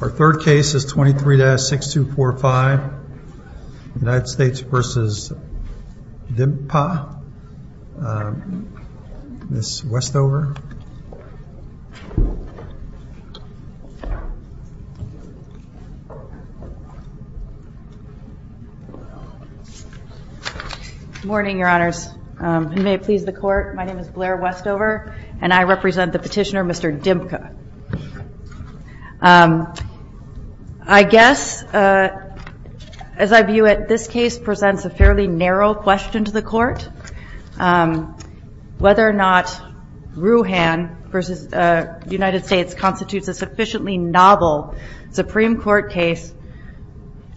Our third case is 23-6245, United States v. Dimkpa. Ms. Westover. Good morning, Your Honors. May it please the Court, my name is Blair Westover and I represent the petitioner, Mr. Dimkpa. I guess, as I view it, this case presents a fairly narrow question to the Court, whether or not Ruhan v. United States constitutes a sufficiently novel Supreme Court case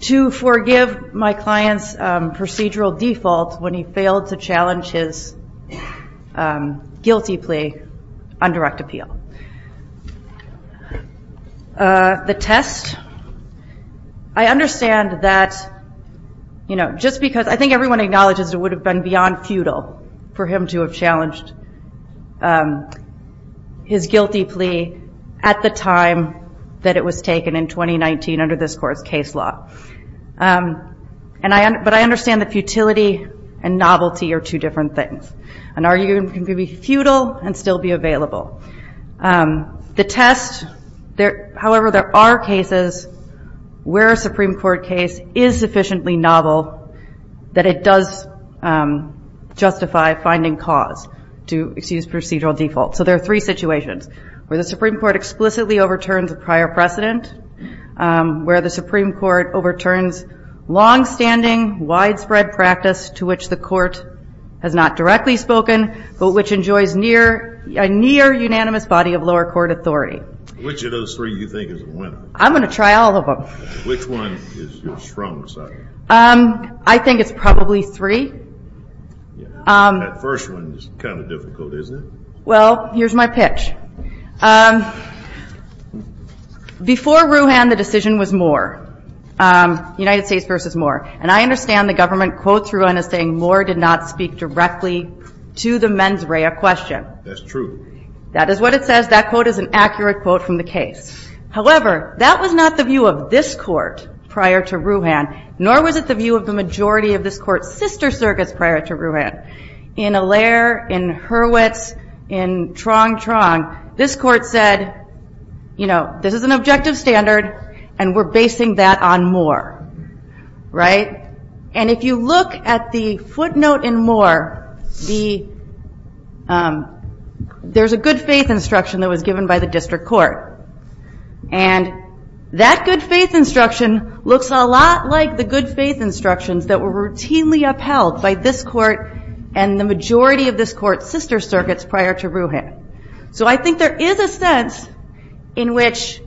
to forgive my client's procedural default when he failed to challenge his guilty plea on direct appeal. The test, I understand that, you know, just because I think everyone acknowledges it would have been beyond futile for him to have challenged his guilty plea at the time that it was taken in 2019 under this Court's case law. But I understand that futility and novelty are two different things. An argument can be futile and still be available. The test, however, there are cases where a Supreme Court case is sufficiently novel that it does justify finding cause to excuse procedural default. So there are three situations, where the Supreme Court explicitly overturns a prior precedent, where the Supreme Court overturns long-standing widespread practice to which the Court has not directly spoken, but which enjoys a near-unanimous body of lower court authority. Which of those three do you think is a winner? I'm going to try all of them. Which one is your strongest side? I think it's probably three. That first one is kind of difficult, isn't it? Well, here's my pitch. Before Ruhan, the decision was Moore, United States versus Moore. And I understand the government quotes Ruhan as saying Moore did not speak directly to the mens rea question. That's true. That is what it says. That quote is an accurate quote from the case. However, that was not the view of this Court prior to Ruhan, nor was it the view of the majority of this Court's sister circuits prior to Ruhan. In Allaire, in Hurwitz, in Trong-Trong, this Court said, you know, this is an objective standard, and we're basing that on Moore. Right? And if you look at the footnote in Moore, there's a good faith instruction that was given by the district court. And that good faith instruction looks a lot like the good faith instructions that were routinely upheld by this Court and the majority of this Court's sister circuits prior to Ruhan. So I think there is a sense in which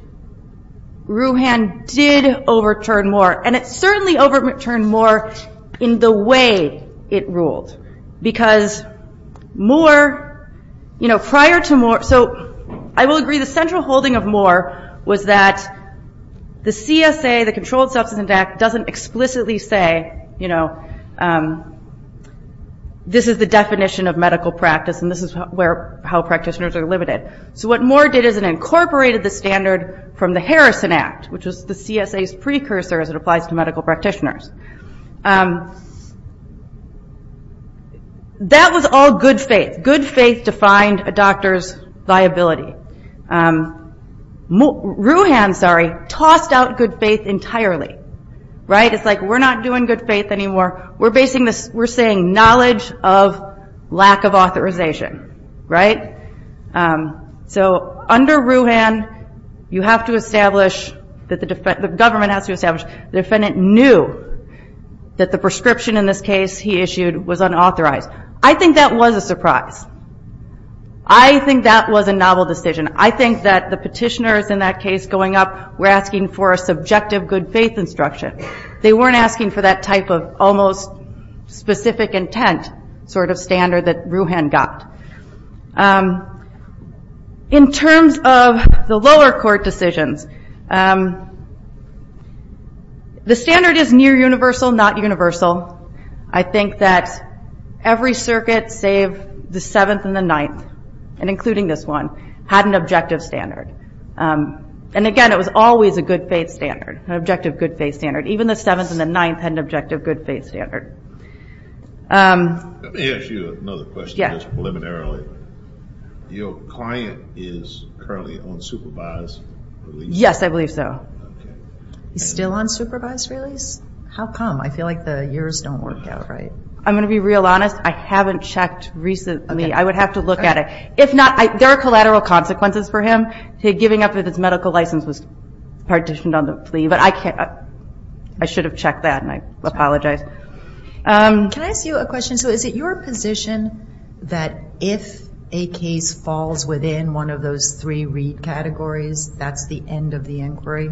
Ruhan did overturn Moore. And it certainly overturned Moore in the way it ruled. Because Moore, you know, prior to Moore, so I will agree the central holding of Moore was that the CSA, the Controlled Substance Abuse Act, doesn't explicitly say, you know, this is the definition of medical practice and this is how practitioners are limited. So what Moore did is it incorporated the standard from the Harrison Act, which was the CSA's precursor as it applies to medical practitioners. That was all good faith. Good faith defined a doctor's viability. Ruhan, sorry, tossed out good faith entirely. Right? It's like, we're not doing good faith anymore. We're basing this, we're saying knowledge of lack of authorization. Right? So under Ruhan, you have to establish, the government has to establish, the defendant knew that the prescription in this case he issued was unauthorized. I think that was a surprise. I think that was a novel decision. I think that the petitioners in that case going up were asking for a subjective good faith instruction. They weren't asking for that type of almost specific intent sort of standard that Ruhan got. In terms of the lower court decisions, the standard is near universal, not universal. I think that every circuit save the 7th and the 9th, and including this one, had an objective good faith standard. And again, it was always a good faith standard, an objective good faith standard. Even the 7th and the 9th had an objective good faith standard. Let me ask you another question, just preliminarily. Your client is currently on supervised release? Yes, I believe so. He's still on supervised release? How come? I feel like the years don't work out right. I'm going to be real honest. I haven't checked recently. I would have to look at it. If not, there are collateral consequences for him. Giving up his medical license was partitioned on the plea. I should have checked that, and I apologize. Can I ask you a question? Is it your position that if a case falls within one of those three REIT categories, that's the end of the inquiry?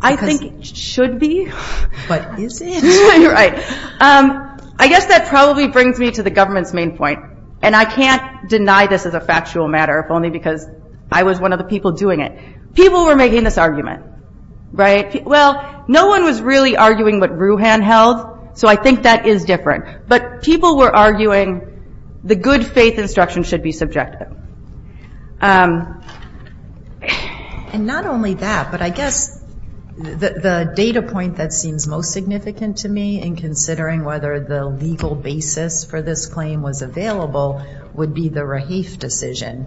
I think it should be. But is it? Right. I guess that probably brings me to the government's main point, and I can't deny this as a factual matter, if only because I was one of the people doing it. People were making this argument, right? Well, no one was really arguing what Ruhan held, so I think that is different. But people were arguing the good faith instruction should be subjective. And not only that, but I guess the data point that seems most significant to me in considering whether the legal basis for this claim was available would be the Raheif decision,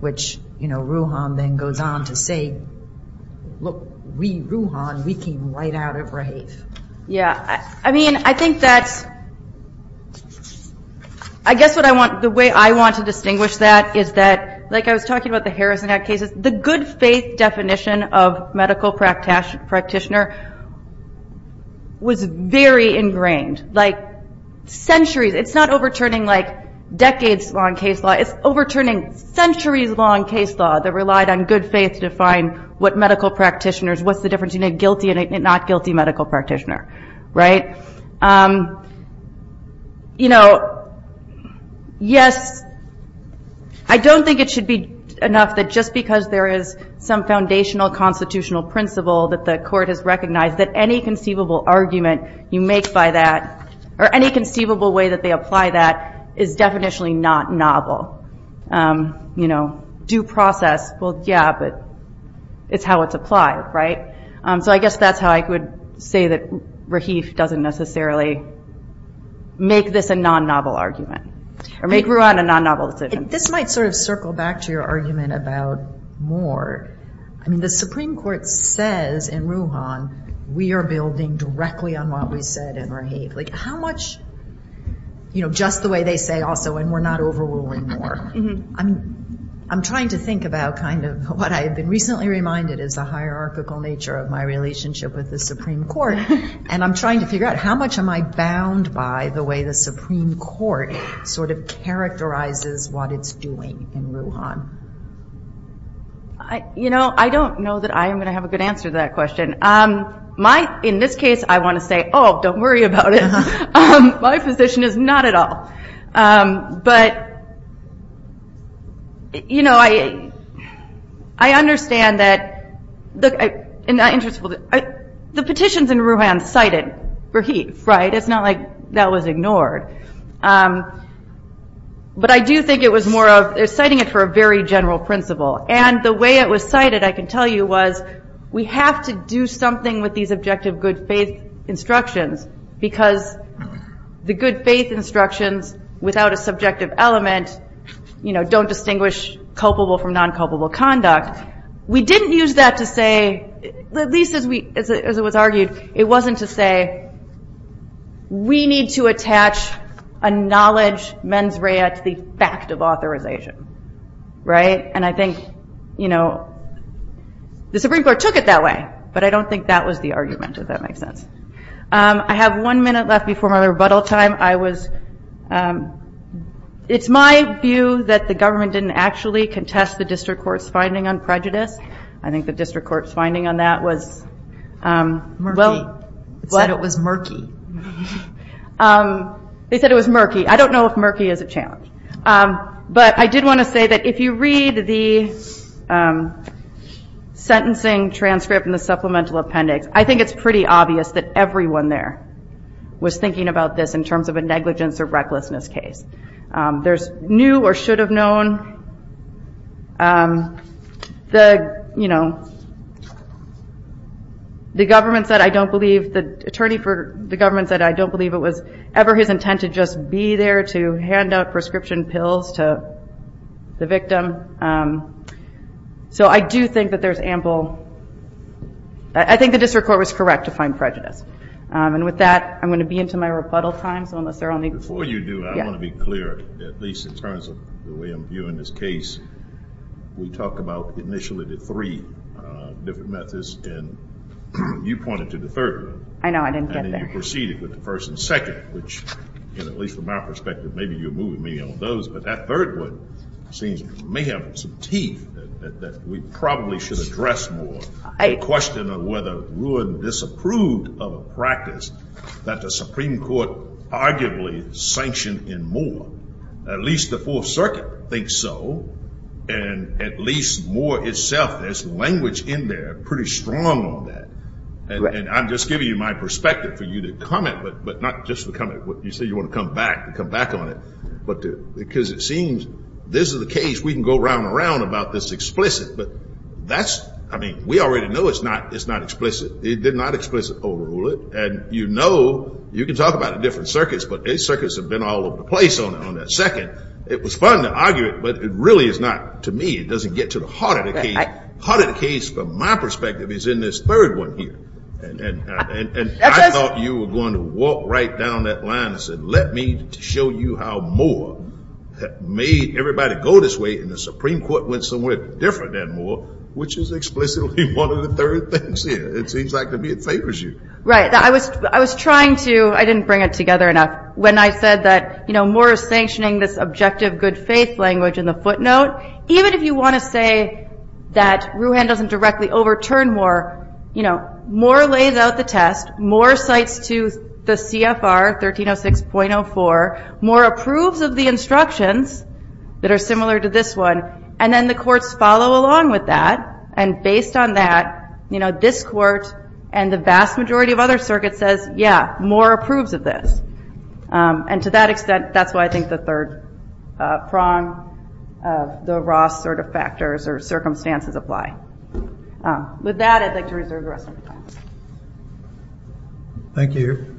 which you know, Ruhan then goes on to say, look, we, Ruhan, we came right out of Raheif. Yeah. I mean, I think that's, I guess what I want, the way I want to distinguish that is that, like I was talking about the Harrison Act cases, the good faith definition of medical practitioner was very ingrained. Like, centuries, it's not overturning like decades-long case law, it's overturning centuries-long case law that relied on good faith to define what medical practitioner is, what's the difference between a guilty and a not guilty medical practitioner, right? You know, yes, I don't think it should be enough that just because there is some foundational constitutional principle that the court has recognized that any conceivable argument you make by that, or any conceivable way that they apply that is definitionally not novel. You know, due process, well, yeah, but it's how it's applied, right? So I guess that's how I would say that Raheif doesn't necessarily make this a non-novel argument, or make Ruhan a non-novel decision. This might sort of circle back to your argument about Moore. I mean, the Supreme Court says in Ruhan, we are building directly on what we said in Raheif. Like, how much, you know, just the way they say also, and we're not overruling Moore. I'm trying to think about kind of what I've been recently reminded is the hierarchical nature of my relationship with the Supreme Court, and I'm trying to figure out how much am I bound by the way the Supreme Court sort of characterizes what it's doing in Ruhan. You know, I don't know that I'm going to have a good answer to that question. In this case, I want to say, oh, don't worry about it. My position is not at all. But, you know, I understand that the petitions in Ruhan cited Raheif, right? It's not like that was ignored. But I do think it was more of, they're citing it for a very general principle. And the way it was cited, I can tell you, was we have to do something with these objective good faith instructions, because the good faith instructions without a subjective element, you know, don't distinguish culpable from non-culpable conduct. We didn't use that to say, at least as it was argued, it wasn't to say, we need to attach a knowledge mens rea to the fact of authorization, right? And I think, you know, the Supreme Court took it that way, but I don't think that was the argument, if that makes sense. I have one minute left before my rebuttal time. I was, it's my view that the government didn't actually contest the district court's finding on prejudice. I think the district court's finding on that was, well, it was murky. They said it was murky. I don't know if murky is a challenge. But I did want to say that if you read the sentencing transcript and the supplemental appendix, I think it's pretty obvious that everyone there was thinking about this in terms of a negligence or recklessness case. There's new or should have known. The, you know, the government said, I don't believe, the attorney for the government said, I don't want to hand out prescription pills to the victim. So I do think that there's ample, I think the district court was correct to find prejudice. And with that, I'm going to be into my rebuttal time, so unless there are any. Before you do, I want to be clear, at least in terms of the way I'm viewing this case, we talk about initially the three different methods, and you pointed to the third one. I know, I didn't get there. And you proceeded with the first and second, which, at least from our perspective, maybe you're moving me on those. But that third one seems to me have some teeth that we probably should address more. The question of whether Ruud disapproved of a practice that the Supreme Court arguably sanctioned in Moore. At least the Fourth Circuit thinks so, and at least Moore itself, there's language in there pretty strong on that. And I'm just giving you my perspective for you to comment, but not just to comment. You say you want to come back and come back on it. Because it seems this is the case we can go round and round about this explicit, but that's, I mean, we already know it's not explicit. It did not explicit overrule it. And you know, you can talk about it in different circuits, but these circuits have been all over the place on that second. It was fun to argue it, but it really is not to me. It doesn't get to the heart of the case. The heart of the case, from my perspective, is in this third one here. And I thought you were going to walk right down that line and said, let me show you how Moore made everybody go this way, and the Supreme Court went somewhere different than Moore, which is explicitly one of the third things here. It seems like to me it favors you. Right. I was trying to, I didn't bring it together enough, when I said that Moore is sanctioning this objective good faith language in the footnote. Even if you want to say that Rouhan doesn't directly overturn Moore, you know, Moore lays out the test, Moore cites to the CFR 1306.04, Moore approves of the instructions that are similar to this one, and then the courts follow along with that, and based on that, you know, this court and the vast majority of other circuits says, yeah, Moore approves of this. And to that extent, that's why I think the third prong, the Ross sort of factors or circumstances apply. With that, I'd like to reserve the rest of the time. Thank you.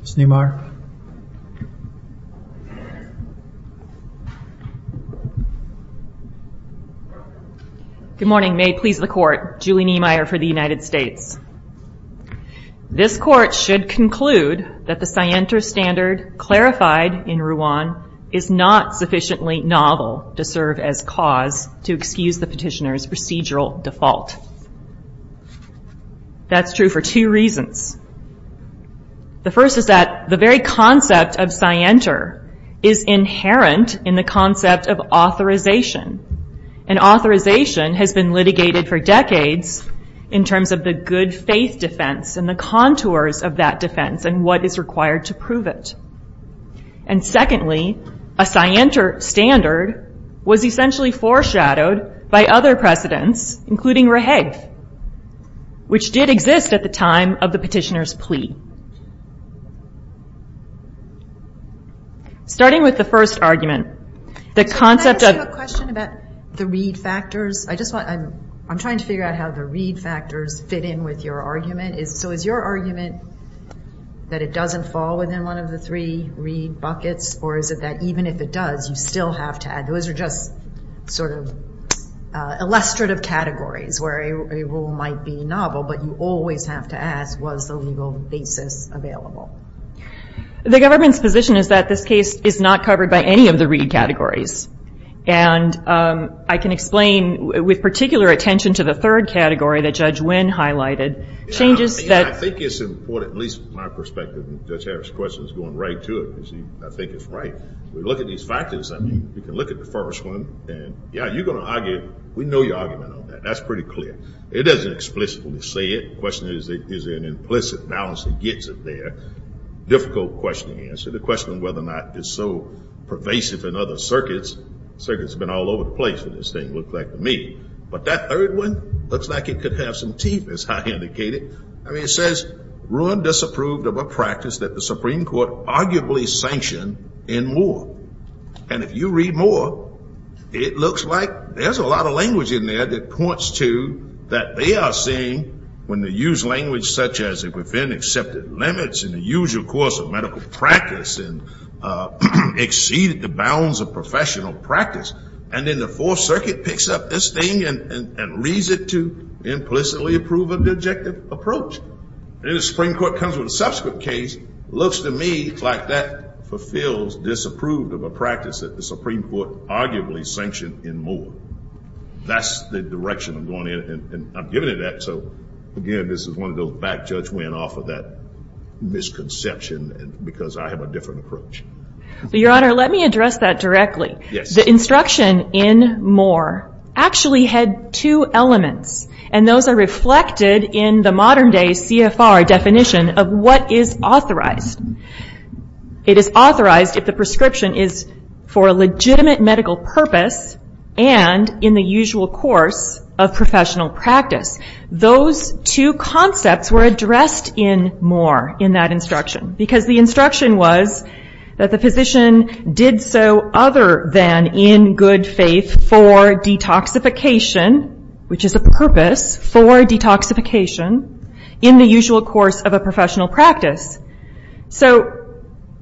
Ms. Niemeyer. Good morning. May it please the court, Julie Niemeyer for the United States. This court should conclude that the scienter standard clarified in Rouhan is not sufficiently novel to serve as cause to excuse the petitioner's procedural default. That's true for two reasons. The first is that the very concept of scienter is inherent in the concept of authorization, and authorization has been litigated for decades in terms of the good faith defense and the lack of that defense and what is required to prove it. And secondly, a scienter standard was essentially foreshadowed by other precedents, including rehave, which did exist at the time of the petitioner's plea. Starting with the first argument, the concept of... Can I ask you a question about the read factors? I just want... I'm trying to figure out how the read factors fit in with your argument. Is your argument that it doesn't fall within one of the three read buckets, or is it that even if it does, you still have to add... Those are just illustrative categories where a rule might be novel, but you always have to ask, was the legal basis available? The government's position is that this case is not covered by any of the read categories. And I can explain, with particular attention to the third category that Judge Wynn highlighted, changes that... I think it's important, at least from my perspective, and Judge Harris' question is going right to it, because I think it's right. We look at these factors, and you can look at the first one, and yeah, you're going to argue... We know your argument on that. That's pretty clear. It doesn't explicitly say it. The question is, is there an implicit balance that gets it there? Difficult question to answer, the question of whether or not it's so pervasive in other circuits. Circuits have been all over the place for this thing, it looked like to me. But that third one looks like it could have some teeth, as I indicated. I mean, it says ruin disapproved of a practice that the Supreme Court arguably sanctioned in war. And if you read more, it looks like there's a lot of language in there that points to that they are seeing when they use language such as within accepted limits in the usual course of medical practice, and exceed the bounds of professional practice, and then the Fourth Circuit picks up this thing and leads it to implicitly approving the objective approach. And the Supreme Court comes with a subsequent case, looks to me like that fulfills disapproved of a practice that the Supreme Court arguably sanctioned in war. That's the direction I'm going in, and I'm giving it that. So again, this is one of those back-judge-win off of that misconception, because I have a different approach. Your Honor, let me address that directly. The instruction in Moore actually had two elements, and those are reflected in the modern day CFR definition of what is authorized. It is authorized if the prescription is for a legitimate medical purpose, and in the usual course of professional practice. Those two concepts were addressed in Moore in that instruction, because the instruction was that the physician did so other than in good faith for detoxification, which is a purpose for detoxification, in the usual course of a professional practice. So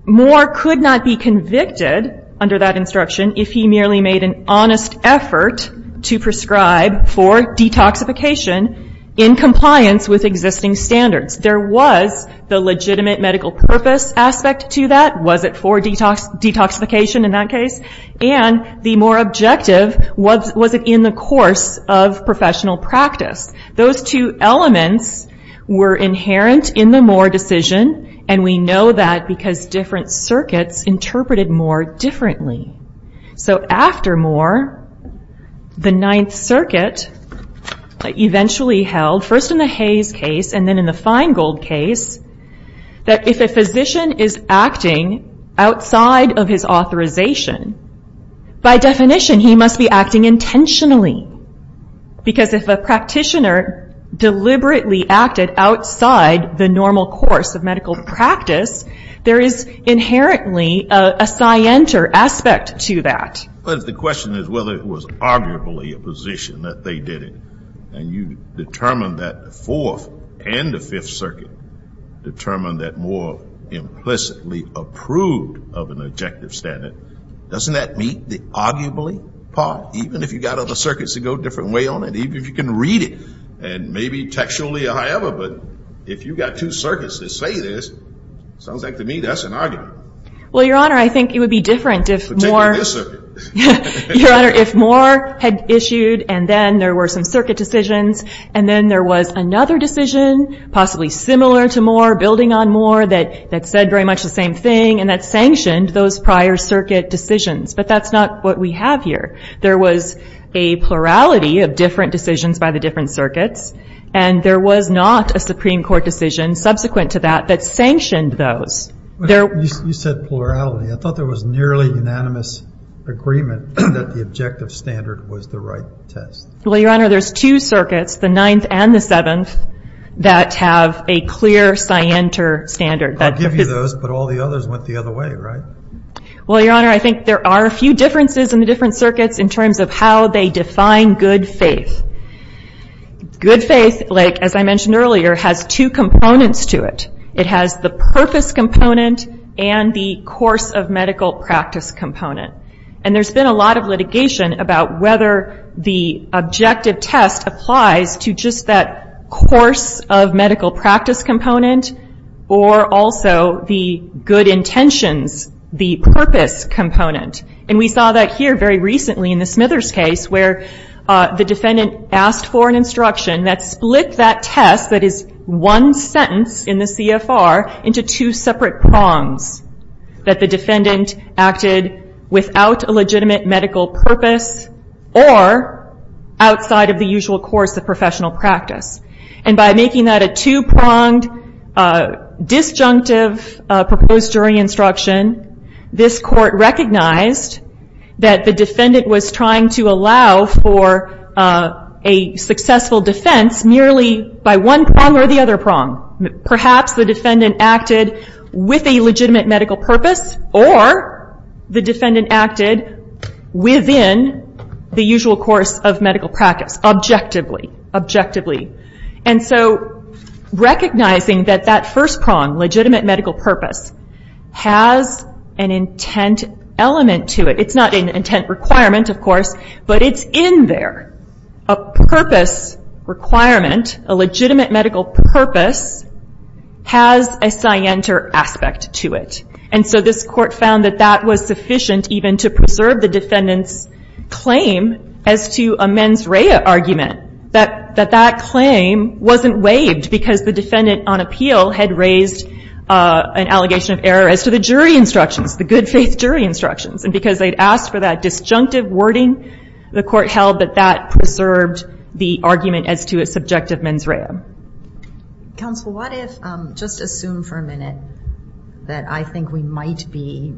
Moore could not be convicted under that instruction if he merely made an honest effort to prescribe for detoxification in compliance with existing standards. There was the legitimate medical purpose aspect to that, was it for detoxification in that case? And the more objective, was it in the course of professional practice? Those two elements were inherent in the Moore decision, and we know that because different circuits interpreted Moore differently. So after Moore, the Ninth Circuit eventually held, first in the Hayes case, and then in the Feingold case, that if a physician is acting outside of his authorization, by definition he must be acting intentionally, because if a practitioner deliberately acted outside the normal course of medical practice, there is inherently a scienter aspect to that. But if the question is whether it was arguably a physician that they did it, and you determined that the Fourth and the Fifth Circuit determined that Moore implicitly approved of an objective standard, doesn't that meet the arguably part? Even if you've got other circuits that go a different way on it, even if you can read it, and maybe textually or however, but if you've got two circuits that say this, sounds like to me that's an argument. Well Your Honor, I think it would be different if Moore had issued, and then there were some circuit decisions, and then there was another decision, possibly similar to Moore, building on Moore, that said very much the same thing, and that sanctioned those prior circuit decisions. But that's not what we have here. There was a plurality of different decisions by the different circuits, and there was not a Supreme Court decision subsequent to that that sanctioned those. You said plurality. I thought there was nearly unanimous agreement that the objective standard was the right test. Well Your Honor, there's two circuits, the Ninth and the Seventh, that have a clear scienter standard. I'll give you those, but all the others went the other way, right? Well Your Honor, I think there are a few differences in the different circuits in terms of how they define good faith. Good faith, like as I mentioned earlier, has two components to it. It has the purpose component and the course of medical practice component. And there's been a lot of litigation about whether the objective test applies to just that course of medical practice component or also the good intentions, the purpose component. And we saw that here very recently in the Smithers case where the defendant asked for an instruction that split that test, that is one sentence in the CFR, into two separate prongs, that the defendant acted without a legitimate medical purpose or outside of the usual course of medical practice. Making that a two pronged disjunctive proposed jury instruction, this court recognized that the defendant was trying to allow for a successful defense merely by one prong or the other prong. Perhaps the defendant acted with a legitimate medical purpose or the defendant acted within the usual course of medical practice, objectively. And so recognizing that that first prong, legitimate medical purpose, has an intent element to it. It's not an intent requirement of course, but it's in there. A purpose requirement, a legitimate medical purpose, has a scienter aspect to it. And so this court found that that was sufficient even to preserve the defendant's claim as to a mens rea argument, that that claim wasn't waived because the defendant on appeal had raised an allegation of error as to the jury instructions, the good faith jury instructions. And because they'd asked for that disjunctive wording, the court held that that preserved the argument as to a subjective mens rea. Counsel, what if, just assume for a minute, that I think we might be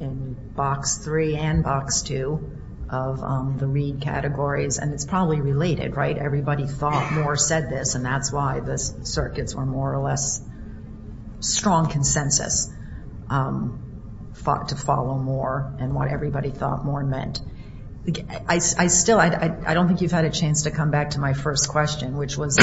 in box three and box two of the read categories, and it's probably related, right? Everybody thought more said this and that's why the circuits were more or less strong consensus, fought to follow more and what everybody thought more meant. I still, I don't think you've had a chance to come back to my first question, which was,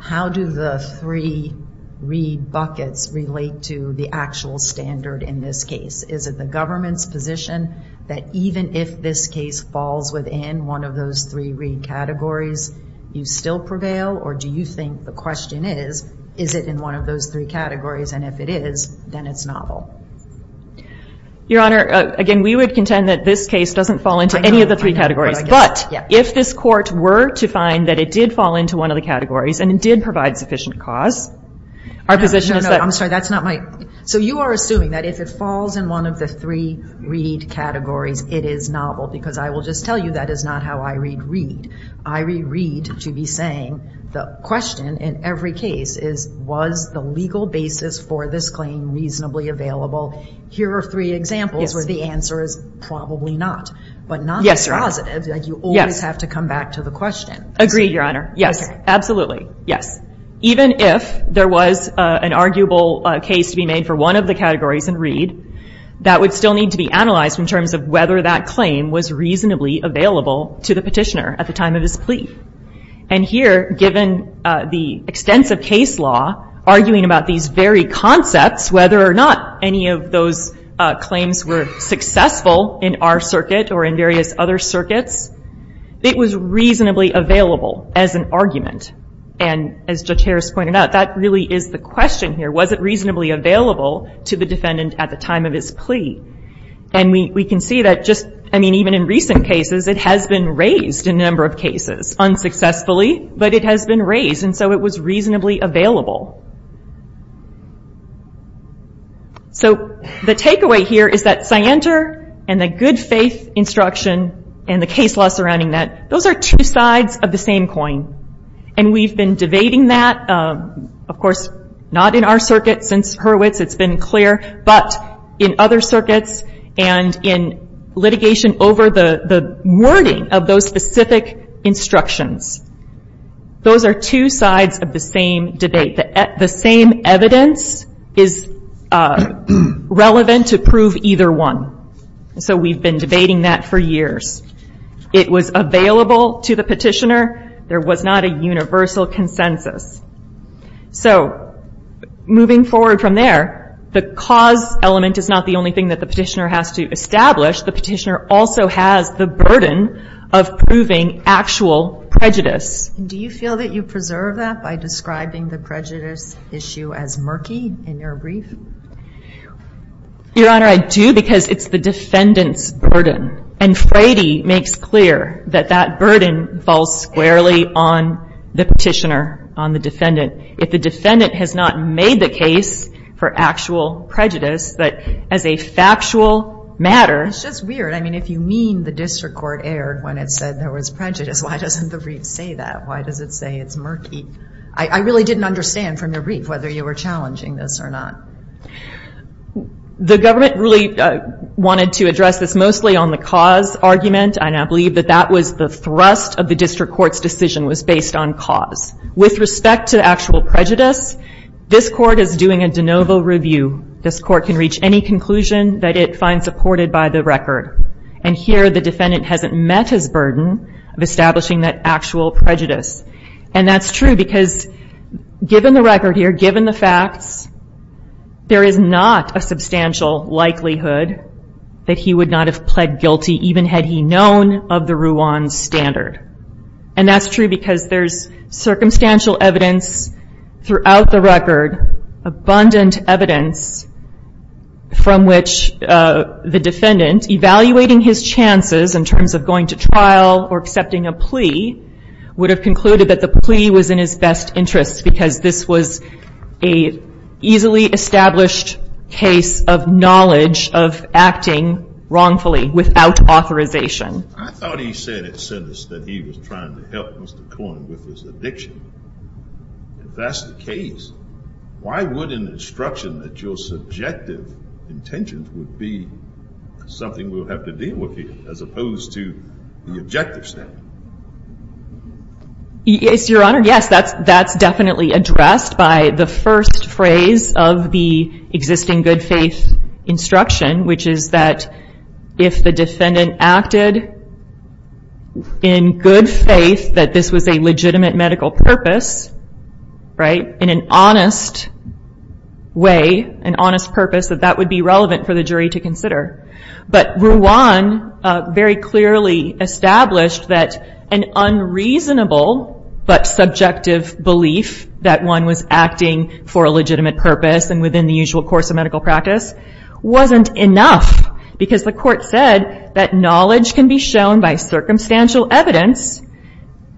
how do the three read buckets relate to the actual standard in this case? Is it the government's position that even if this case falls within one of those three read categories, you still prevail? Or do you think the question is, is it in one of those three categories? And if it is, then it's novel. Your Honor, again, we would contend that this case doesn't fall into any of the three categories. But, if this court were to find that it did fall into one of the categories and it did provide sufficient cause, our position is that... No, no, no, I'm sorry, that's not my... So you are assuming that if it falls in one of the three read categories, it is novel, because I will just tell you that is not how I read read. I read read to be saying, the question in every case is, was the legal basis for this claim reasonably available? Here are three examples where the answer is, probably not, but not be positive. You always have to come back to the question. Agreed, Your Honor. Yes, absolutely. Yes. Even if there was an arguable case to be made for one of the categories in read, that would still need to be analyzed in terms of whether that claim was reasonably available to the petitioner at the time of his plea. And here, given the extensive case law, arguing about these very concepts, whether or not any of those claims were successful in our circuit or in various other circuits, it was reasonably available as an argument. And as Judge Harris pointed out, that really is the question here. Was it reasonably available to the defendant at the time of his plea? And we can see that just... I mean, even in recent cases, it has been raised in a number of cases, unsuccessfully, but it has been raised, and so it was reasonably available. So the takeaway here is that Scienter and the good faith instruction and the case law surrounding that, those are two sides of the same coin. And we've been debating that, of course, not in our circuit, since Hurwitz, it's been clear, but in other circuits and in litigation over the wording of those specific instructions. Those are two sides of the same debate. The same evidence is relevant to prove either one. And so we've been debating that for years. It was available to the petitioner. There was not a universal consensus. So moving forward from there, the cause element is not the only thing that the petitioner has to establish. The petitioner also has the burden of proving actual prejudice. Do you feel that you preserve that by describing the prejudice issue as murky in your brief? Your Honor, I do because it's the defendant's burden. And Frady makes clear that that burden falls squarely on the petitioner, on the defendant. If the defendant has not made the case for actual prejudice, that as a factual matter. It's just weird. I mean, if you mean the district court erred when it said there was prejudice, why doesn't the brief say that? Why does it say it's murky? I really didn't understand from the brief whether you were challenging this or not. The government really wanted to address this mostly on the cause argument. And I believe that that was the thrust of the district court's decision was based on the cause. With respect to actual prejudice, this court is doing a de novo review. This court can reach any conclusion that it finds supported by the record. And here the defendant hasn't met his burden of establishing that actual prejudice. And that's true because given the record here, given the facts, there is not a substantial likelihood that he would not have pled guilty even had he known of the Ruan standard. And that's true because there's circumstantial evidence throughout the record, abundant evidence, from which the defendant, evaluating his chances in terms of going to trial or accepting a plea, would have concluded that the plea was in his best interest because this was a easily established case of knowledge of acting wrongfully without authorization. I thought he said it said that he was trying to help Mr. Coyne with his addiction. If that's the case, why would an instruction that your subjective intention would be something we would have to deal with as opposed to the objective standard? Yes, your honor, yes, that's definitely addressed by the first phrase of the existing good faith instruction, which is that if the defendant acted in good faith that this was a legitimate medical purpose, right, in an honest way, an honest purpose, that that would be relevant for the jury to consider. But Ruan very clearly established that an unreasonable but subjective belief that one was acting for a legitimate purpose and within the usual course of medical practice wasn't enough because the court said that knowledge can be shown by circumstantial evidence,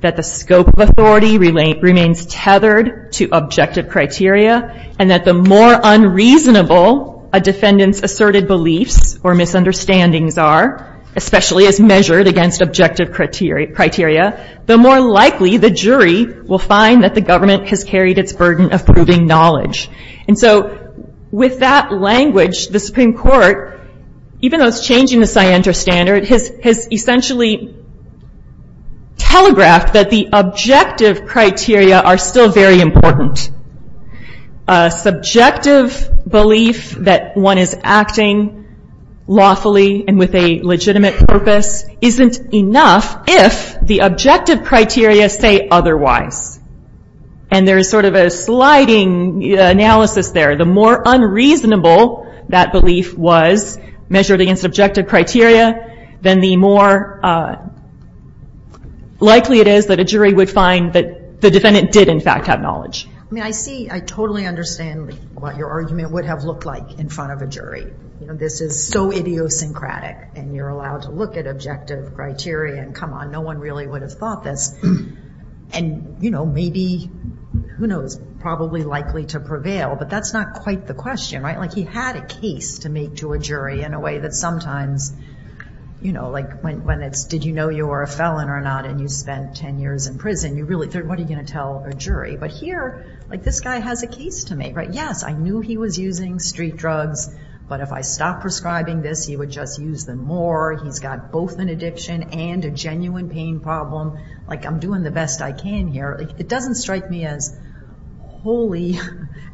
that the scope of authority remains tethered to objective criteria, and that the more unreasonable a defendant's asserted beliefs or misunderstandings are, especially as measured against objective criteria, the more likely the jury will find that the government has carried its burden of proving knowledge. And so with that language, the Supreme Court, even though it's changing the scienter standard, has essentially telegraphed that the objective criteria are still very important. A subjective belief that one is acting lawfully and with a legitimate purpose isn't enough if the objective criteria say otherwise. And there's sort of a sliding analysis there. The more unreasonable that belief was measured against objective criteria, then the more likely it is that a jury would find that the defendant did in fact have knowledge. I mean, I see, I totally understand what your argument would have looked like in front of a jury. You know, this is so idiosyncratic and you're allowed to look at objective criteria and come on, no one really would have thought this. And, you know, maybe, who knows, probably likely to prevail, but that's not quite the question, right? Like he had a case to make to a jury in a way that sometimes, you know, like when it's did you know you were a felon or not and you spent 10 years in prison, you really, what are you going to tell a jury? But here, like this guy has a case to make, right? Yes, I knew he was using street drugs, but if I stopped prescribing this, he would just use them more. He's got both an addiction and a genuine pain problem. Like I'm doing the best I can here. It doesn't strike me as wholly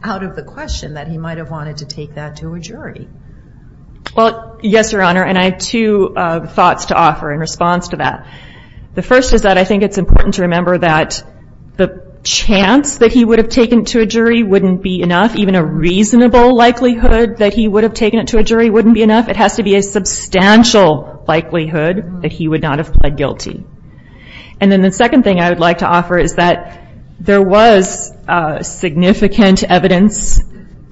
out of the question that he might have wanted to take that to a jury. Well, yes, Your Honor, and I have two thoughts to offer in response to that. The first is that I think it's important to remember that the chance that he would have taken to a jury wouldn't be enough. Even a reasonable likelihood that he would have taken it to a jury wouldn't be enough. It has to be a substantial likelihood that he would not have pled guilty. And then the second thing I would like to offer is that there was significant evidence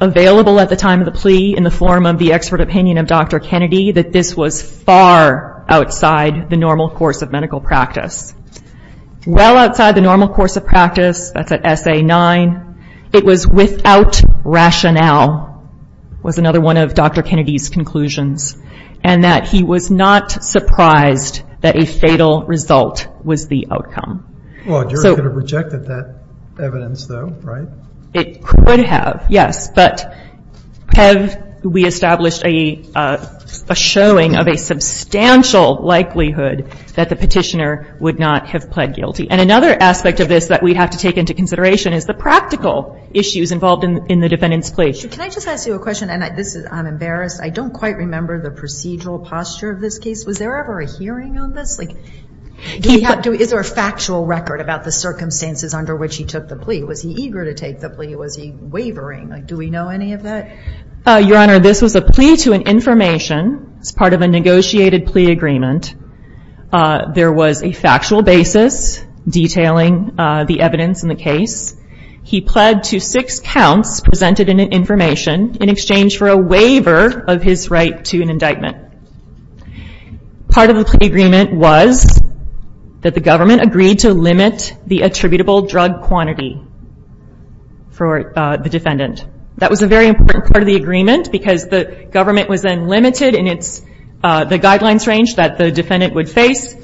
available at the time of the plea in the form of the expert opinion of Dr. Kennedy that this was far outside the normal course of medical practice. Well outside the normal course of practice, that's at SA 9, it was without rationale was another one of Dr. Kennedy's conclusions, and that he was not surprised that a fatal result was the outcome. Well, a jury could have rejected that evidence though, right? It could have, yes, but have we established a showing of a substantial likelihood that the petitioner would not have pled guilty? And another aspect of this that we'd have to take into consideration is the practical issues involved in the defendant's plea. Can I just ask you a question, and I'm embarrassed, I don't quite remember the procedural posture of this case. Was there ever a hearing on this? Is there a factual record about the circumstances under which he took the plea? Was he eager to take the plea? Was he wavering? Do we know any of that? Your Honor, this was a plea to an information. It's part of a negotiated plea agreement. There was a factual basis detailing the evidence in the case. He pled to six counts presented in an information in exchange for a waiver of his right to an indictment. Part of the plea agreement was that the government agreed to limit the attributable drug quantity for the defendant. That was a very important part of the agreement because the government was then limited in the guidelines range that the defendant would face.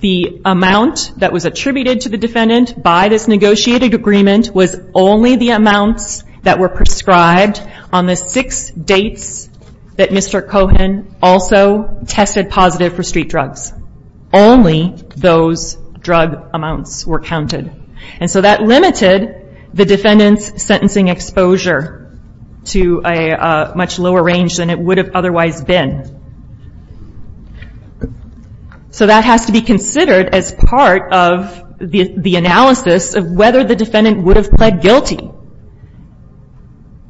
The amount that was attributed to the defendant by this negotiated agreement was only the amounts that were prescribed. On the six dates that Mr. Cohen also tested positive for street drugs, only those drug amounts were counted. That limited the defendant's sentencing exposure to a much lower range than it would have otherwise been. That has to be considered as part of the analysis of whether the defendant would have pled guilty.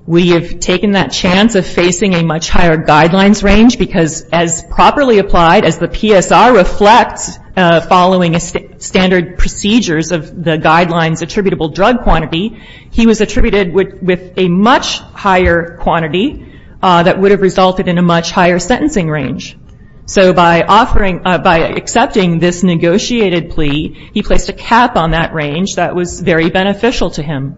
We have taken that chance of facing a much higher guidelines range because as properly applied as the PSR reflects following standard procedures of the guidelines attributable drug quantity, he was attributed with a much higher quantity that would have resulted in a much higher sentencing range. So by accepting this negotiated plea, he placed a cap on that range. That was very beneficial to him.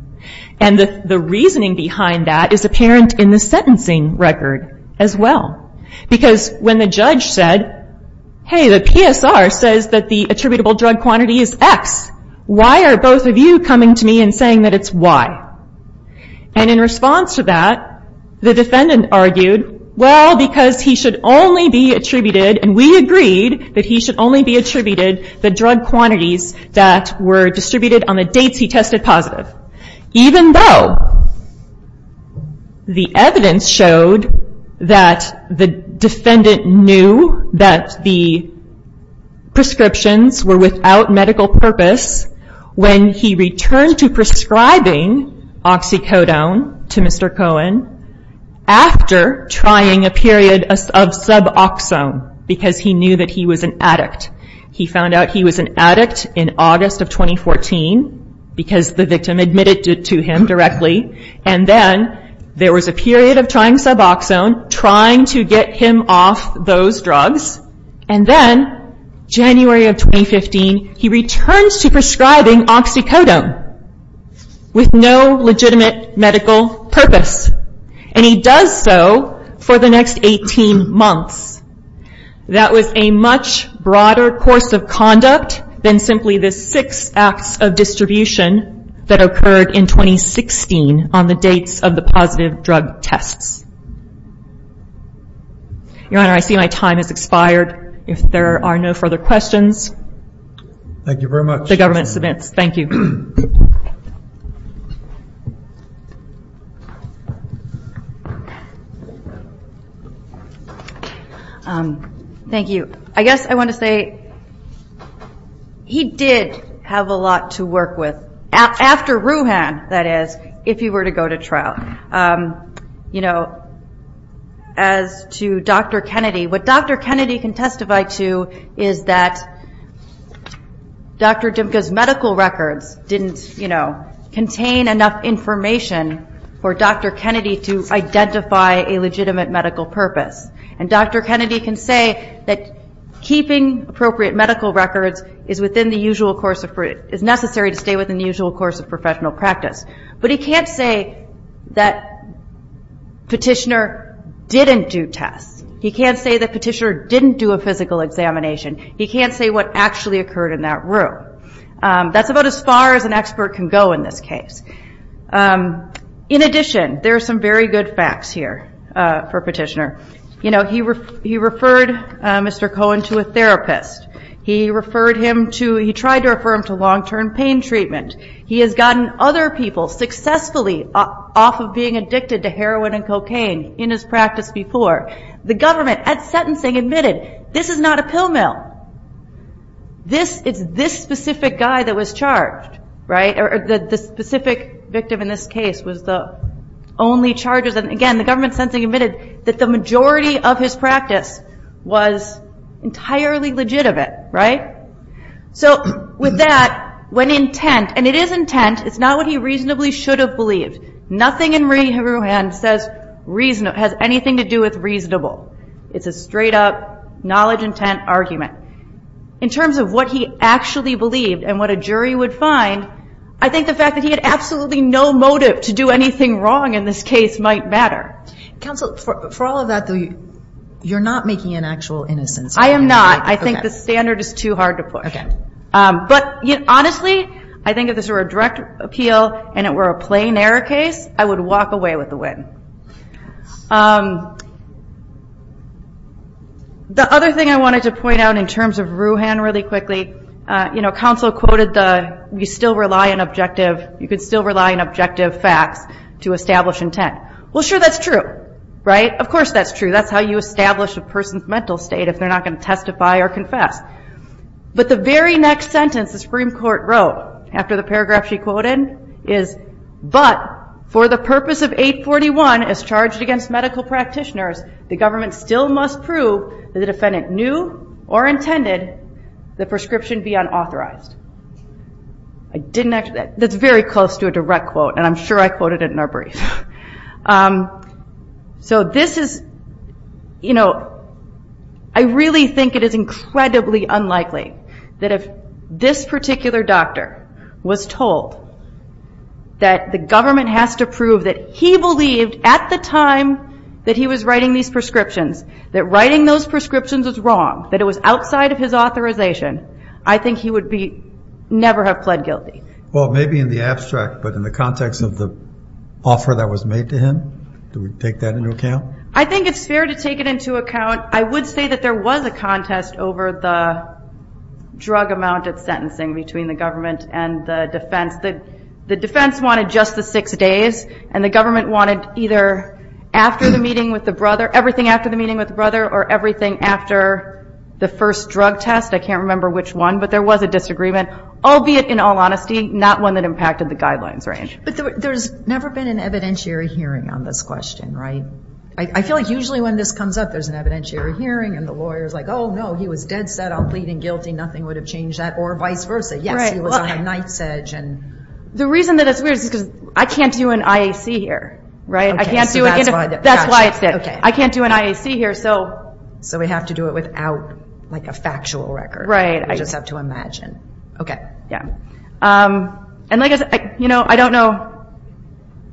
The reasoning behind that is apparent in the sentencing record as well because when the judge said, hey, the PSR says that the attributable drug quantity is X. Why are both of you coming to me and saying that it's Y? In response to that, the defendant argued, well, because he should only be attributed, and we agreed that he should only be attributed the drug quantities that were distributed on the dates he tested positive. Even though the evidence showed that the defendant knew that the prescriptions were without medical purpose when he returned to prescribing oxycodone to Mr. Cohen after trying a period of suboxone because he knew that he was an addict. He found out he was an addict in August of 2014 because the victim admitted to him directly, and then there was a period of trying suboxone, trying to get him off those drugs, and then January of 2015, he returns to prescribing oxycodone with no legitimate medical purpose, and he does so for the next 18 months. That was a much broader course of conduct than simply the six acts of distribution that occurred in 2016 on the dates of the positive drug tests. Your Honor, I see my time has expired. If there are no further questions, the government submits. Thank you. Thank you. I guess I want to say he did have a lot to work with, after Rouhan, that is, if he were to go to trial. As to Dr. Kennedy, what Dr. Kennedy can testify to is that Dr. Kennedy's medical records didn't contain enough information for Dr. Kennedy to identify a legitimate medical purpose, and Dr. Kennedy can say that keeping appropriate medical records is necessary to stay within the usual course of professional practice, but he can't say that Petitioner didn't do tests. He can't say that Petitioner didn't do a physical examination. He can't say what actually occurred in that room. That's about as far as an expert can go in this case. In addition, there are some very good facts here for Petitioner. You know, he referred Mr. Cohen to a therapist. He referred him to, he tried to refer him to long-term pain treatment. He has gotten other people successfully off of being addicted to heroin and cocaine in his practice before. The government, at sentencing, admitted, this is not a pill mill. This, it's this specific guy that was charged, right, or the specific victim in this case was the only charges, and again, the government sentencing admitted that the majority of his practice was entirely legitimate, right? So, with that, when intent, and it is intent, it's not what he reasonably should have believed. Nothing in Rehoboam says has anything to do with reasonable. It's a straight-up, knowledge-intent argument. In terms of what he actually believed and what a jury would find, I think the fact that he had absolutely no motive to do anything wrong in this case might matter. Counsel, for all of that, though, you're not making an actual innocence argument. I am not. I think the standard is too hard to push. Okay. But, honestly, I think if this were a direct appeal and it were a plain error case, I would walk away with the win. The other thing I wanted to point out in terms of Rouhan really quickly, you know, counsel quoted the, you still rely on objective, you can still rely on objective facts to establish intent. Well, sure, that's true, right? Of course that's true. That's how you establish a person's mental state if they're not going to testify or confess. But the very next sentence the Supreme Court wrote after the paragraph she quoted is, but for the purpose of 841 as charged against medical practitioners, the government still must prove that the defendant knew or intended the prescription be unauthorized. That's very close to a direct quote, and I'm sure I quoted it in our brief. So this is, you know, I really think it is incredibly unlikely that if this particular doctor was told that the government has to prove that he believed at the time that he was writing these prescriptions that writing those prescriptions was wrong, that it was outside of his authorization, I think he would never have pled guilty. Well, maybe in the abstract, but in the context of the offer that was made to him, do we take that into account? I think it's fair to take it into account. I would say that there was a contest over the drug amount of sentencing between the government and the defense. The defense wanted just the six days, and the government wanted either after the meeting with the brother, everything after the meeting with the brother, or everything after the first drug test. I can't remember which one, but there was a disagreement, albeit in all honesty, not one that impacted the guidelines range. But there's never been an evidentiary hearing on this question, right? I feel like usually when this comes up, there's an evidentiary hearing, and the lawyer's like, oh no, he was dead set on pleading guilty, nothing would have changed that, or vice versa. Yes, he was on a knife's edge. The reason that it's weird is because I can't do an IAC here, right? I can't do an IAC here, so we have to do it without a factual record. We just have to imagine. I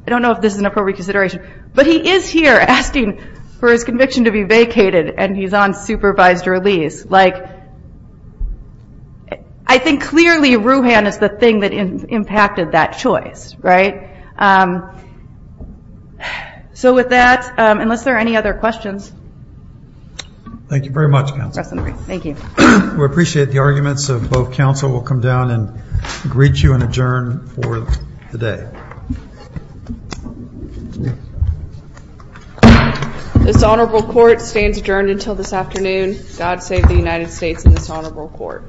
don't know if this is an appropriate consideration, but he is here asking for his conviction to be vacated, and he's on supervised release. I think clearly Rouhan is the thing that impacted that choice, right? So with that, unless there are any other questions. Thank you very much, Counsel. Thank you. We appreciate the arguments of both counsel. We'll come down and greet you and adjourn for the day. This Honorable Court stands adjourned until this afternoon. God save the United States and this Honorable Court.